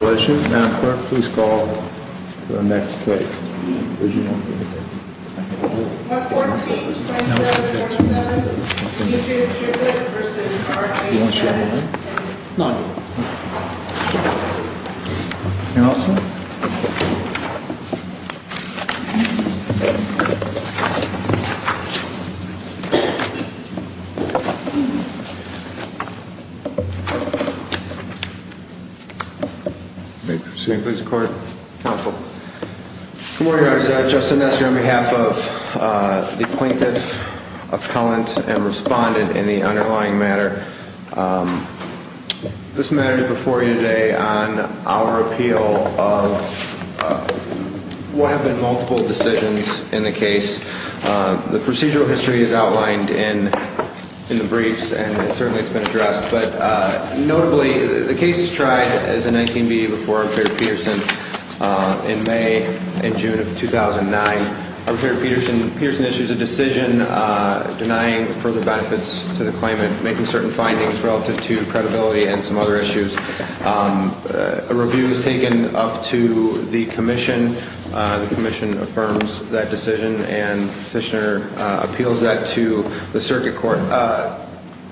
If there are no further questions, Madam Clerk, please call to the next case. Good morning, Your Honor. This is Justin Nestor on behalf of the Plaintiff, Appellant, and Respondent in the underlying matter. This matter is before you today on our appeal of what have been multiple decisions in the case. The procedural history is outlined in the briefs, and it certainly has been addressed. But notably, the case is tried as a 19B before Appellant Peterson in May and June of 2009. Appellant Peterson issues a decision denying further benefits to the claimant, making certain findings relative to credibility and some other issues. A review is taken up to the Commission. The Commission affirms that decision, and the Petitioner appeals that to the Circuit Court.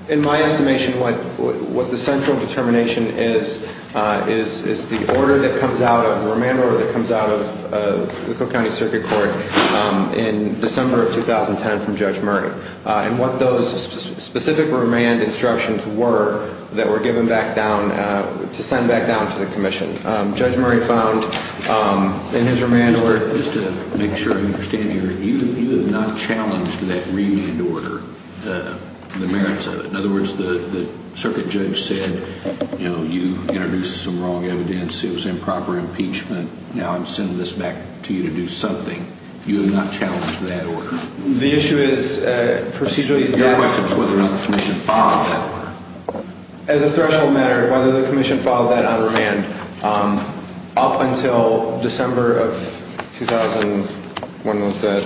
In my estimation, what the central determination is, is the order that comes out of, the remand order that comes out of the Cook County Circuit Court in December of 2010 from Judge Murray. And what those specific remand instructions were that were given back down, to send back down to the Commission. Judge Murray found in his remand order- Just to make sure I understand here, you have not challenged that remand order, the merits of it. In other words, the Circuit Judge said, you know, you introduced some wrong evidence. It was improper impeachment. Now I'm sending this back to you to do something. You have not challenged that order. The issue is procedurally- Your question is whether or not the Commission followed that order. As a threshold matter, whether the Commission followed that on remand up until December of 2000, when there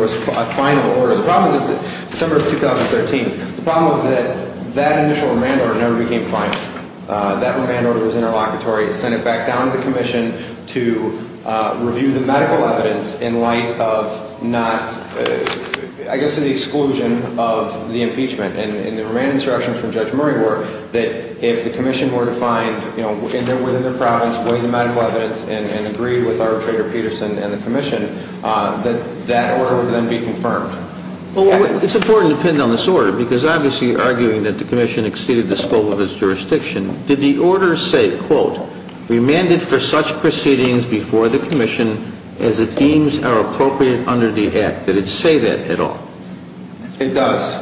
was a final order. The problem is that, December of 2013, the problem was that that initial remand order never became final. That remand order was interlocutory. It sent it back down to the Commission to review the medical evidence in light of not- I guess in the exclusion of the impeachment. And the remand instructions from Judge Murray were that if the Commission were to find, you know, within their province, weigh the medical evidence, and agree with arbitrator Peterson and the Commission, that that order would then be confirmed. Well, it's important to pin down this order, because obviously arguing that the Commission exceeded the scope of its jurisdiction, did the order say, quote, Remanded for such proceedings before the Commission as it deems are appropriate under the Act. Did it say that at all? It does.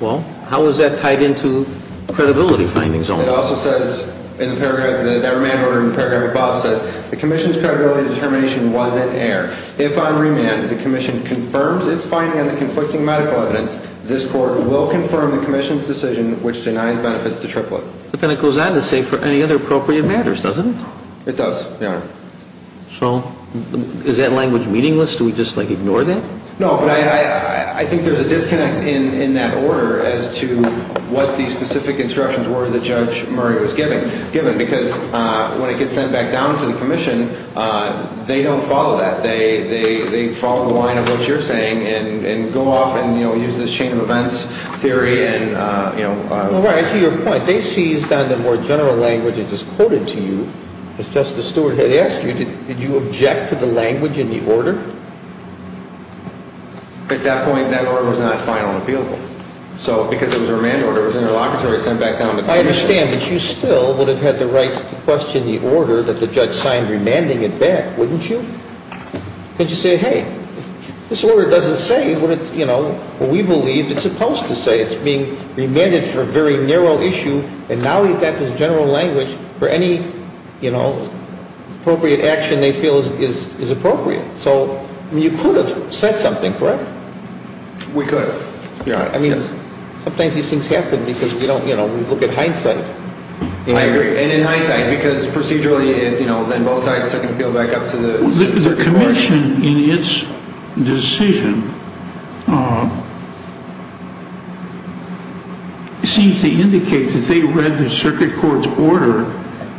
Well, how is that tied into credibility findings only? It also says in the paragraph, that remand order in the paragraph above says, The Commission's credibility determination was in error. If, on remand, the Commission confirms its finding on the conflicting medical evidence, this Court will confirm the Commission's decision which denies benefits to Triplett. But then it goes on to say, for any other appropriate matters, doesn't it? It does, Your Honor. So, is that language meaningless? Do we just, like, ignore that? No, but I think there's a disconnect in that order as to what the specific instructions were that Judge Murray was given. Because when it gets sent back down to the Commission, they don't follow that. They follow the line of what you're saying and go off and, you know, use this chain of events theory and, you know. Well, right, I see your point. They seized on the more general language that is quoted to you. As Justice Stewart had asked you, did you object to the language in the order? At that point, that order was not final and appealable. So, because it was a remand order, it was interlocutory, it was sent back down to the Commission. Well, I understand, but you still would have had the right to question the order that the judge signed remanding it back, wouldn't you? Because you say, hey, this order doesn't say what it's, you know, what we believe it's supposed to say. It's being remanded for a very narrow issue, and now we've got this general language for any, you know, appropriate action they feel is appropriate. So, you could have said something, correct? We could, Your Honor. Yes. Sometimes these things happen because, you know, we look at hindsight. I agree. And in hindsight, because procedurally, you know, then both sides are going to appeal back up to the circuit court. The Commission, in its decision, seems to indicate that they read the circuit court's order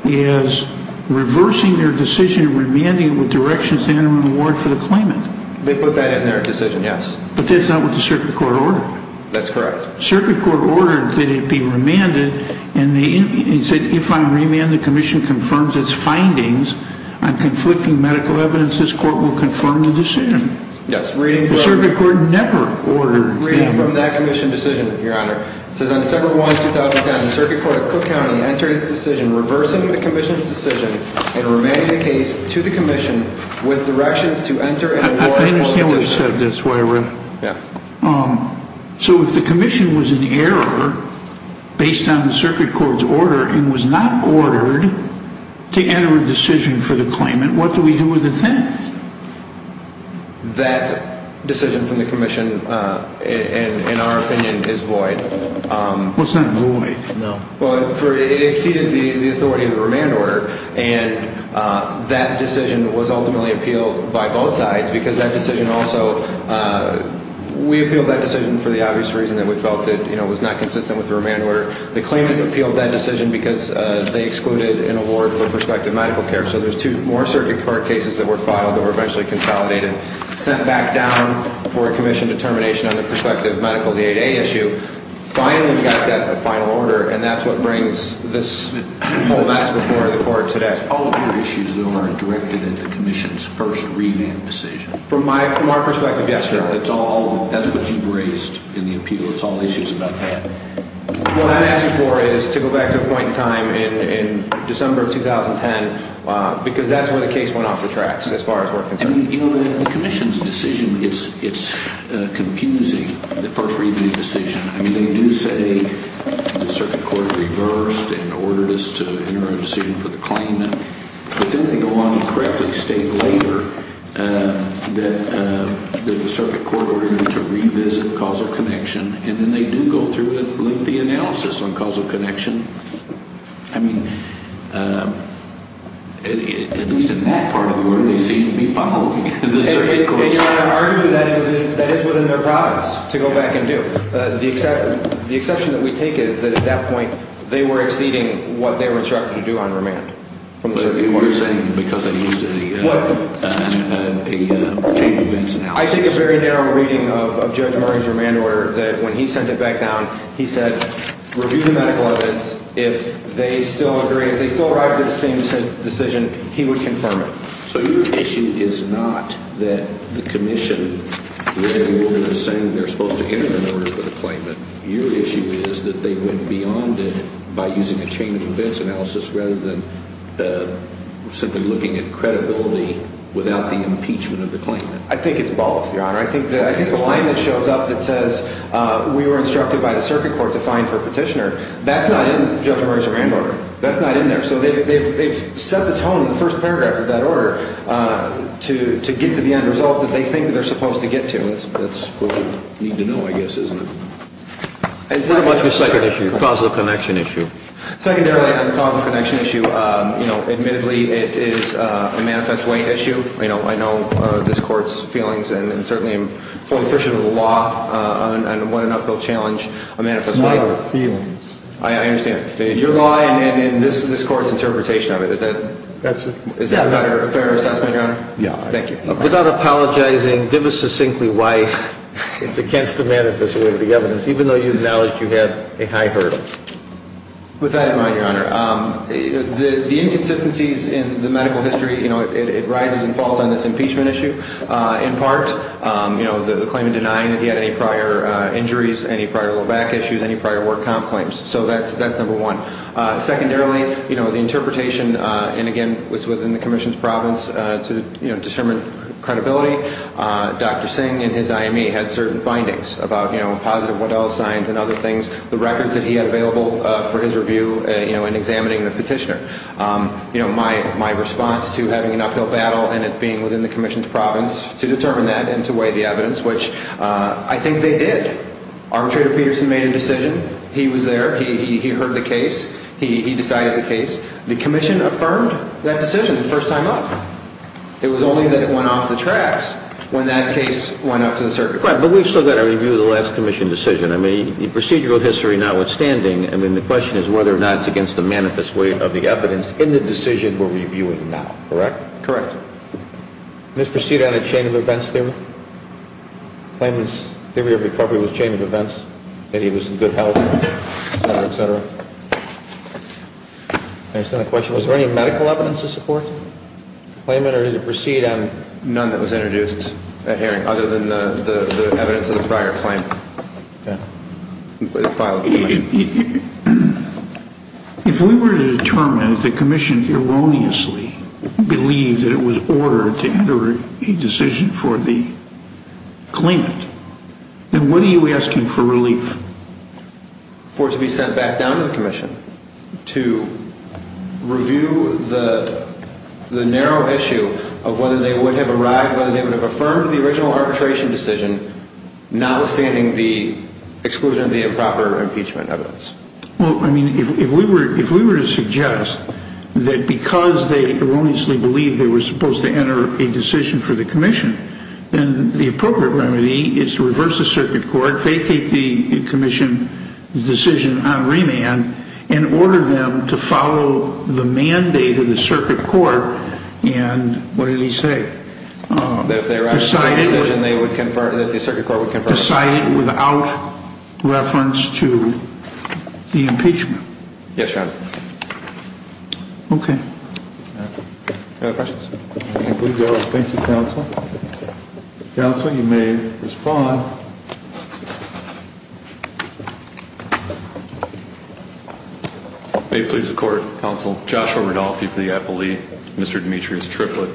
as reversing their decision, remanding it with directions to enter into a warrant for the claimant. They put that in their decision, yes. But that's not what the circuit court ordered. That's correct. The circuit court ordered that it be remanded, and they said, if I'm remanded, the Commission confirms its findings on conflicting medical evidence. This court will confirm the decision. Yes, reading from that Commission decision, Your Honor. It says, on December 1, 2010, the circuit court of Cook County entered its decision reversing the Commission's decision and remanding the case to the Commission with directions to enter into a warrant for the claimant. So if the Commission was in error based on the circuit court's order and was not ordered to enter a decision for the claimant, what do we do with the defendant? That decision from the Commission, in our opinion, is void. Well, it's not void. No. Well, it exceeded the authority of the remand order, and that decision was ultimately appealed by both sides because that decision also – we appealed that decision for the obvious reason that we felt that it was not consistent with the remand order. The claimant appealed that decision because they excluded an award for prospective medical care. So there's two more circuit court cases that were filed that were eventually consolidated, sent back down for a Commission determination on the prospective medical aid issue. They finally got that final order, and that's what brings this whole mess before the Court today. All of your issues, though, are directed at the Commission's first remand decision. From our perspective, yes, Your Honor. That's what you've raised in the appeal. It's all issues about that. What I'm asking for is to go back to a point in time in December of 2010 because that's where the case went off the tracks as far as we're concerned. The Commission's decision, it's confusing, the first remand decision. I mean, they do say the circuit court reversed and ordered us to enter a decision for the claimant. But then they go on to correctly state later that the circuit court ordered them to revisit causal connection. And then they do go through a lengthy analysis on causal connection. I mean, at least in that part of the order, they seem to be following the circuit court. Your Honor, I argue that is within their prowess to go back and do. The exception that we take is that at that point they were exceeding what they were instructed to do on remand from the circuit court. But you're saying because they used a change of events analysis. I take a very narrow reading of Judge Murray's remand order that when he sent it back down, he said, review the medical evidence. If they still agree, if they still arrive to the same decision, he would confirm it. So your issue is not that the Commission, the regulator, is saying they're supposed to enter an order for the claimant. Your issue is that they went beyond it by using a change of events analysis rather than simply looking at credibility without the impeachment of the claimant. I think it's both, Your Honor. I think the line that shows up that says we were instructed by the circuit court to find for petitioner, that's not in Judge Murray's remand order. That's not in there. So they've set the tone in the first paragraph of that order to get to the end result that they think they're supposed to get to. That's what we need to know, I guess, isn't it? It's very much a second issue, a causal connection issue. Secondarily, on the causal connection issue, you know, admittedly, it is a manifest way issue. I know this Court's feelings, and certainly I'm fully appreciative of the law and want to not go challenge a manifest way. It's not our feelings. I understand. Your law and this Court's interpretation of it, is that a fair assessment, Your Honor? Yeah. Thank you. Without apologizing, give us succinctly why it's against the manifest way of the evidence, even though you've acknowledged you have a high hurdle. With that in mind, Your Honor, the inconsistencies in the medical history, you know, it rises and falls on this impeachment issue. In part, you know, the claim in denying that he had any prior injuries, any prior low back issues, any prior work comp claims. So that's number one. Secondarily, you know, the interpretation, and again, it's within the Commission's province to, you know, determine credibility. Dr. Singh in his IME had certain findings about, you know, positive Waddell signs and other things. The records that he had available for his review, you know, in examining the petitioner. You know, my response to having an uphill battle and it being within the Commission's province to determine that and to weigh the evidence, which I think they did. Arbitrator Peterson made a decision. He was there. He heard the case. He decided the case. The Commission affirmed that decision the first time up. It was only that it went off the tracks when that case went up to the circuit court. But we've still got to review the last Commission decision. I mean, the procedural history, notwithstanding, I mean, the question is whether or not it's against the manifest weight of the evidence in the decision we're reviewing now. Correct? Correct. This proceeded on a chain of events theory. Claimant's theory of recovery was chain of events, that he was in good health, et cetera, et cetera. I just have a question. Was there any medical evidence to support the claimant? Or did it proceed on none that was introduced at hearing other than the evidence of the prior claim? Yeah. If we were to determine that the Commission erroneously believed that it was ordered to enter a decision for the claimant, then what are you asking for relief? For it to be sent back down to the Commission to review the narrow issue of whether they would have arrived, whether they would have affirmed the original arbitration decision, notwithstanding the exclusion of the improper impeachment evidence. Well, I mean, if we were to suggest that because they erroneously believed they were supposed to enter a decision for the Commission, then the appropriate remedy is to reverse the Circuit Court, vacate the Commission's decision on remand, and order them to follow the mandate of the Circuit Court, and what did he say? That if they arrived at the same decision, they would confer, that the Circuit Court would confer. Decided without reference to the impeachment. Yes, Your Honor. Okay. Any other questions? Thank you, Counsel. Counsel, you may respond. May it please the Court, Counsel, Joshua Rodolfi for the appellee, Mr. Demetrius Triplett.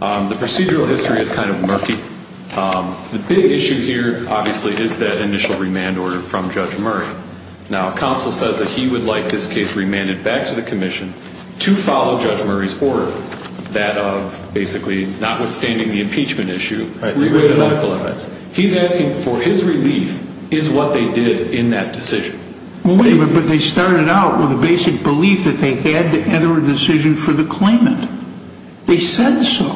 The procedural history is kind of murky. The big issue here, obviously, is that initial remand order from Judge Murray. Now, Counsel says that he would like this case remanded back to the Commission to follow Judge Murray's order, that of, basically, notwithstanding the impeachment issue. He's asking for his relief is what they did in that decision. But they started out with a basic belief that they had to enter a decision for the claimant. They said so,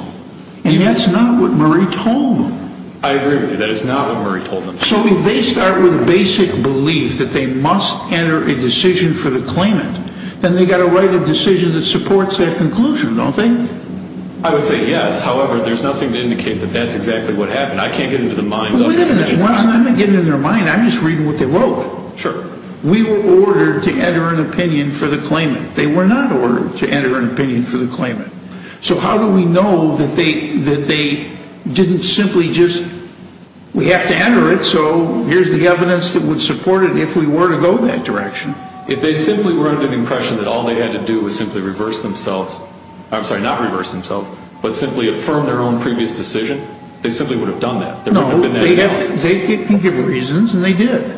and that's not what Murray told them. I agree with you. That is not what Murray told them. So if they start with a basic belief that they must enter a decision for the claimant, then they've got to write a decision that supports that conclusion, don't they? I would say yes. However, there's nothing to indicate that that's exactly what happened. I can't get into the minds of the Commission. Wait a minute. I'm not getting into their mind. I'm just reading what they wrote. Sure. We were ordered to enter an opinion for the claimant. They were not ordered to enter an opinion for the claimant. So how do we know that they didn't simply just, we have to enter it, so here's the evidence that would support it if we were to go that direction. If they simply were under the impression that all they had to do was simply reverse themselves, I'm sorry, not reverse themselves, but simply affirm their own previous decision, they simply would have done that. There wouldn't have been that analysis. They can give reasons, and they did.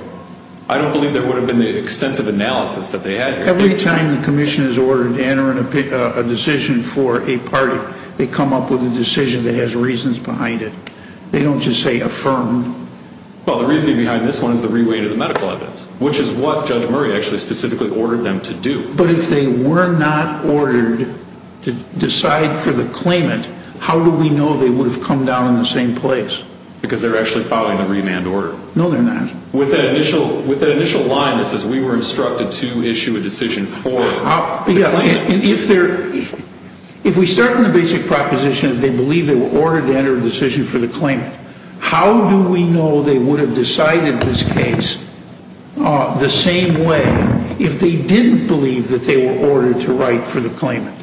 I don't believe there would have been the extensive analysis that they had. Every time the Commission is ordered to enter a decision for a party, they come up with a decision that has reasons behind it. They don't just say affirm. Well, the reason behind this one is the reweight of the medical evidence, which is what Judge Murray actually specifically ordered them to do. But if they were not ordered to decide for the claimant, how do we know they would have come down in the same place? Because they're actually following the remand order. No, they're not. With that initial line that says, we were instructed to issue a decision for the claimant. If we start from the basic proposition that they believe they were ordered to enter a decision for the claimant, how do we know they would have decided this case the same way if they didn't believe that they were ordered to write for the claimant?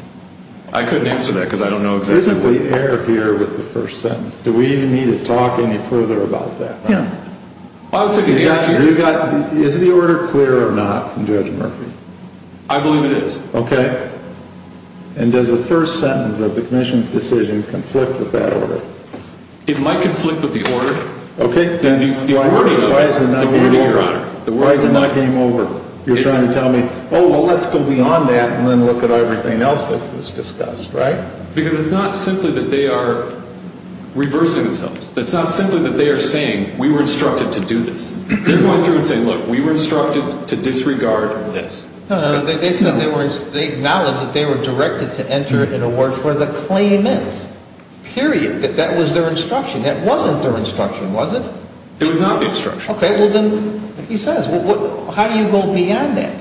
I couldn't answer that because I don't know exactly. Isn't the error here with the first sentence? Do we need to talk any further about that? Yeah. Is the order clear or not from Judge Murphy? I believe it is. Okay. And does the first sentence of the commission's decision conflict with that order? It might conflict with the order. Okay, then why is it not game over? Why is it not game over? You're trying to tell me, oh, well, let's go beyond that and then look at everything else that was discussed, right? Because it's not simply that they are reversing themselves. It's not simply that they are saying, we were instructed to do this. They're going through and saying, look, we were instructed to disregard this. No, no. They said they were – they acknowledged that they were directed to enter an award for the claimant. Period. That was their instruction. That wasn't their instruction, was it? It was not the instruction. Okay. Well, then, he says. How do you go beyond that?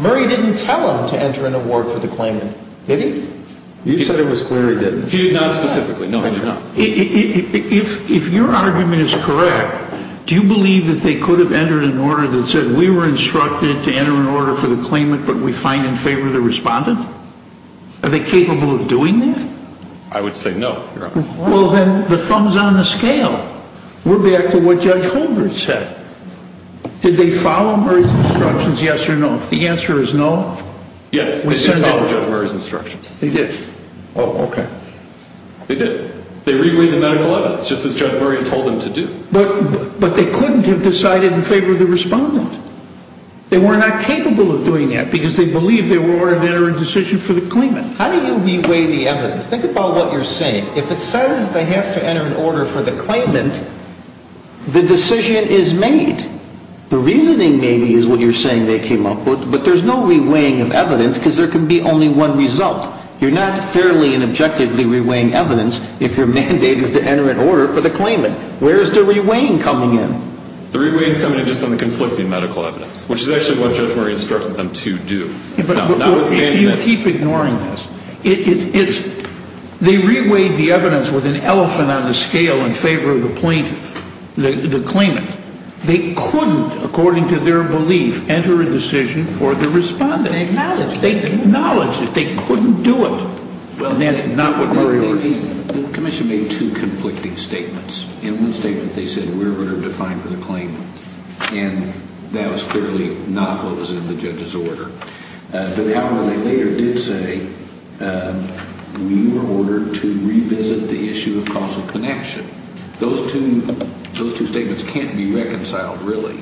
Murray didn't tell them to enter an award for the claimant, did he? You said it was clear he didn't. He did not specifically. No, he did not. If your argument is correct, do you believe that they could have entered an order that said, we were instructed to enter an order for the claimant, but we find in favor of the respondent? Are they capable of doing that? I would say no, Your Honor. Well, then, the thumb's on the scale. We're back to what Judge Holdren said. Did they follow Murray's instructions, yes or no? If the answer is no. Yes, they did follow Judge Murray's instructions. They did. Oh, okay. They did. They reweighed the medical evidence, just as Judge Murray had told them to do. But they couldn't have decided in favor of the respondent. They were not capable of doing that because they believed they were ordered to enter a decision for the claimant. How do you reweigh the evidence? Think about what you're saying. If it says they have to enter an order for the claimant, the decision is made. The reasoning, maybe, is what you're saying they came up with, but there's no reweighing of evidence because there can be only one result. You're not fairly and objectively reweighing evidence if your mandate is to enter an order for the claimant. Where is the reweighing coming in? The reweighing is coming in just on the conflicting medical evidence, which is actually what Judge Murray instructed them to do. If you keep ignoring this, they reweighed the evidence with an elephant on the scale in favor of the claimant. They couldn't, according to their belief, enter a decision for the respondent. They acknowledged it. They acknowledged it. They couldn't do it. And that's not what Murray ordered. The commission made two conflicting statements. In one statement they said we're going to define for the claimant. And that was clearly not what was in the judge's order. But, however, they later did say we were ordered to revisit the issue of causal connection. Those two statements can't be reconciled, really.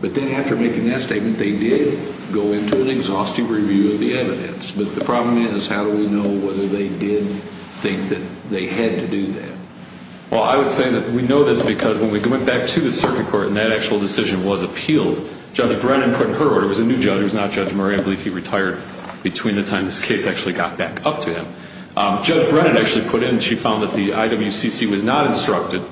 But then after making that statement, they did go into an exhaustive review of the evidence. But the problem is how do we know whether they did think that they had to do that? Well, I would say that we know this because when we went back to the circuit court and that actual decision was appealed, Judge Brennan put her order. It was a new judge. It was not Judge Murray. I believe he retired between the time this case actually got back up to him. Judge Brennan actually put in she found that the IWCC was not instructed,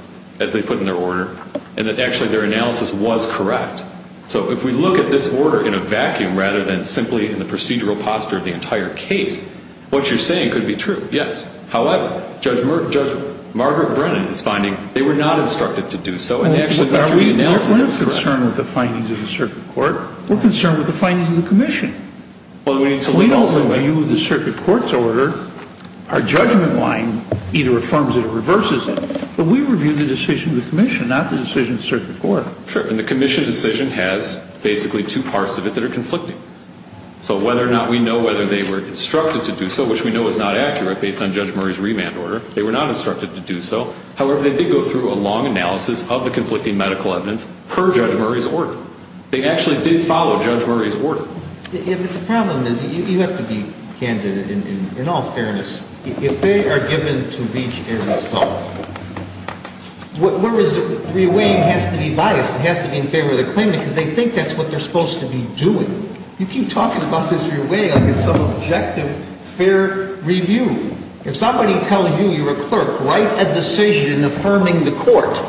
as they put in their order, and that actually their analysis was correct. So if we look at this order in a vacuum rather than simply in the procedural posture of the entire case, what you're saying could be true, yes. However, Judge Margaret Brennan is finding they were not instructed to do so. And they actually put through the analysis that was correct. We're not concerned with the findings of the circuit court. We're concerned with the findings of the commission. We don't review the circuit court's order. Our judgment line either affirms it or reverses it. But we review the decision of the commission, not the decision of the circuit court. Sure. And the commission decision has basically two parts of it that are conflicting. So whether or not we know whether they were instructed to do so, which we know is not accurate based on Judge Murray's remand order, they were not instructed to do so. However, they did go through a long analysis of the conflicting medical evidence per Judge Murray's order. They actually did follow Judge Murray's order. But the problem is you have to be candid in all fairness. If they are given to reach an assault, whereas the reweighing has to be biased, it has to be in favor of the claimant because they think that's what they're supposed to be doing. You keep talking about this reweighing like it's some objective fair review. If somebody tells you, you're a clerk, write a decision affirming the court,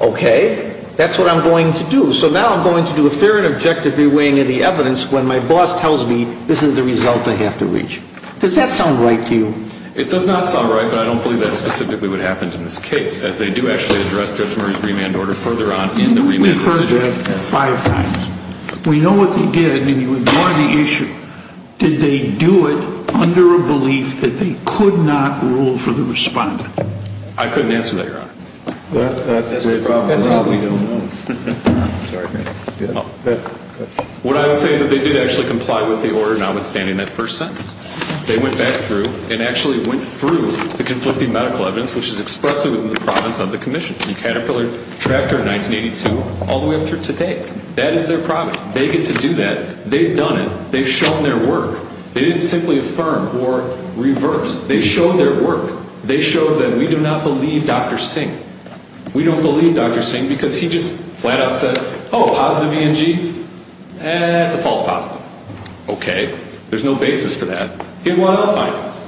okay, that's what I'm going to do. So now I'm going to do a fair and objective reweighing of the evidence when my boss tells me this is the result I have to reach. Does that sound right to you? It does not sound right, but I don't believe that's specifically what happened in this case, as they do actually address Judge Murray's remand order further on in the remand decision. We've heard that five times. We know what they did, and you ignore the issue. Did they do it under a belief that they could not rule for the respondent? I couldn't answer that, Your Honor. That's the problem. That's all we don't know. I'm sorry. What I would say is that they did actually comply with the order, notwithstanding that first sentence. They went back through and actually went through the conflicting medical evidence, which is expressed in the province of the commission, in Caterpillar Tractor 1982 all the way up through today. That is their promise. They get to do that. They've done it. They've shown their work. They didn't simply affirm or reverse. They showed their work. They showed that we do not believe Dr. Singh. We don't believe Dr. Singh because he just flat-out said, oh, positive ENG? Eh, it's a false positive. Okay. There's no basis for that. He won all the findings.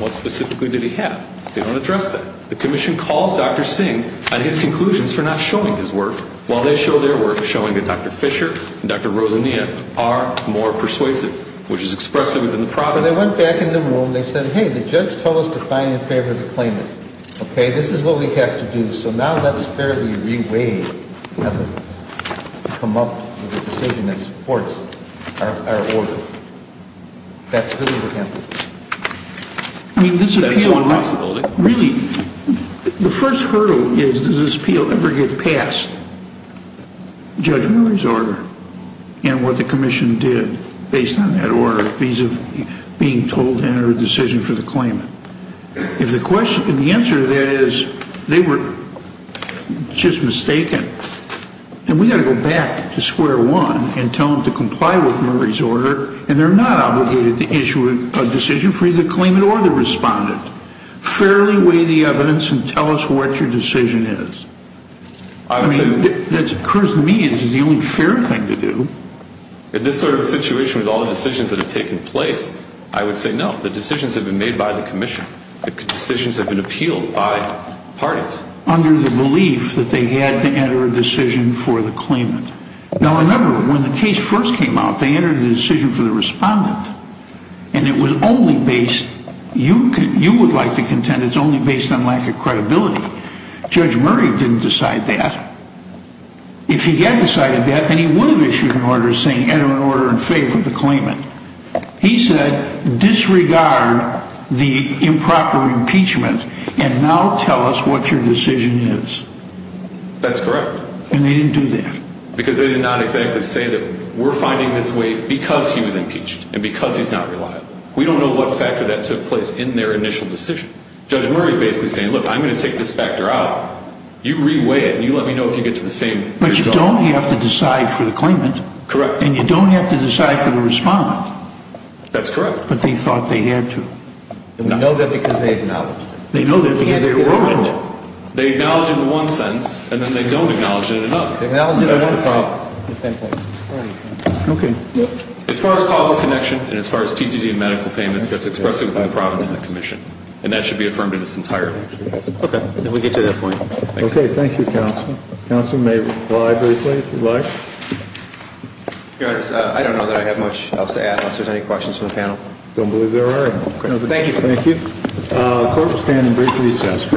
What specifically did he have? They don't address that. The commission calls Dr. Singh on his conclusions for not showing his work, while they show their work, showing that Dr. Fisher and Dr. Rosania are more persuasive, which is expressed within the province. When they went back in the room, they said, hey, the judge told us to find in favor of the claimant. Okay? This is what we have to do. So now let's fairly re-weigh evidence to come up with a decision that supports our order. That's good evidence. I mean, this appeal, really, the first hurdle is does this appeal ever get past Judge Murray's order and what the commission did based on that order vis-a-vis being told to enter a decision for the claimant? If the answer to that is they were just mistaken, then we've got to go back to square one and tell them to comply with Murray's order, and they're not obligated to issue a decision for either the claimant or the respondent. Fairly weigh the evidence and tell us what your decision is. I mean, that occurs to me as the only fair thing to do. In this sort of situation with all the decisions that have taken place, I would say no. The decisions have been made by the commission. The decisions have been appealed by parties. Under the belief that they had to enter a decision for the claimant. Now, remember, when the case first came out, they entered a decision for the respondent, and it was only based, you would like to contend, it's only based on lack of credibility. Judge Murray didn't decide that. If he had decided that, then he would have issued an order saying enter an order in favor of the claimant. He said disregard the improper impeachment and now tell us what your decision is. That's correct. And they didn't do that. Because they did not exactly say that we're finding this way because he was impeached and because he's not reliable. We don't know what factor that took place in their initial decision. Judge Murray is basically saying, look, I'm going to take this factor out. You reweigh it and you let me know if you get to the same result. But you don't have to decide for the claimant. Correct. And you don't have to decide for the respondent. That's correct. But they thought they had to. And we know that because they acknowledged it. They know that because they wrote in it. They acknowledge it in one sentence and then they don't acknowledge it in another. They acknowledge it in one sentence. As far as causal connection and as far as TTD and medical payments, that's expressed within the province and the commission. And that should be affirmed in its entirety. Okay. We'll get to that point. Okay. Thank you, counsel. Counsel may reply briefly if you'd like. I don't know that I have much else to add unless there's any questions from the panel. I don't believe there are. Thank you. Thank you. Court will stand in brief recess.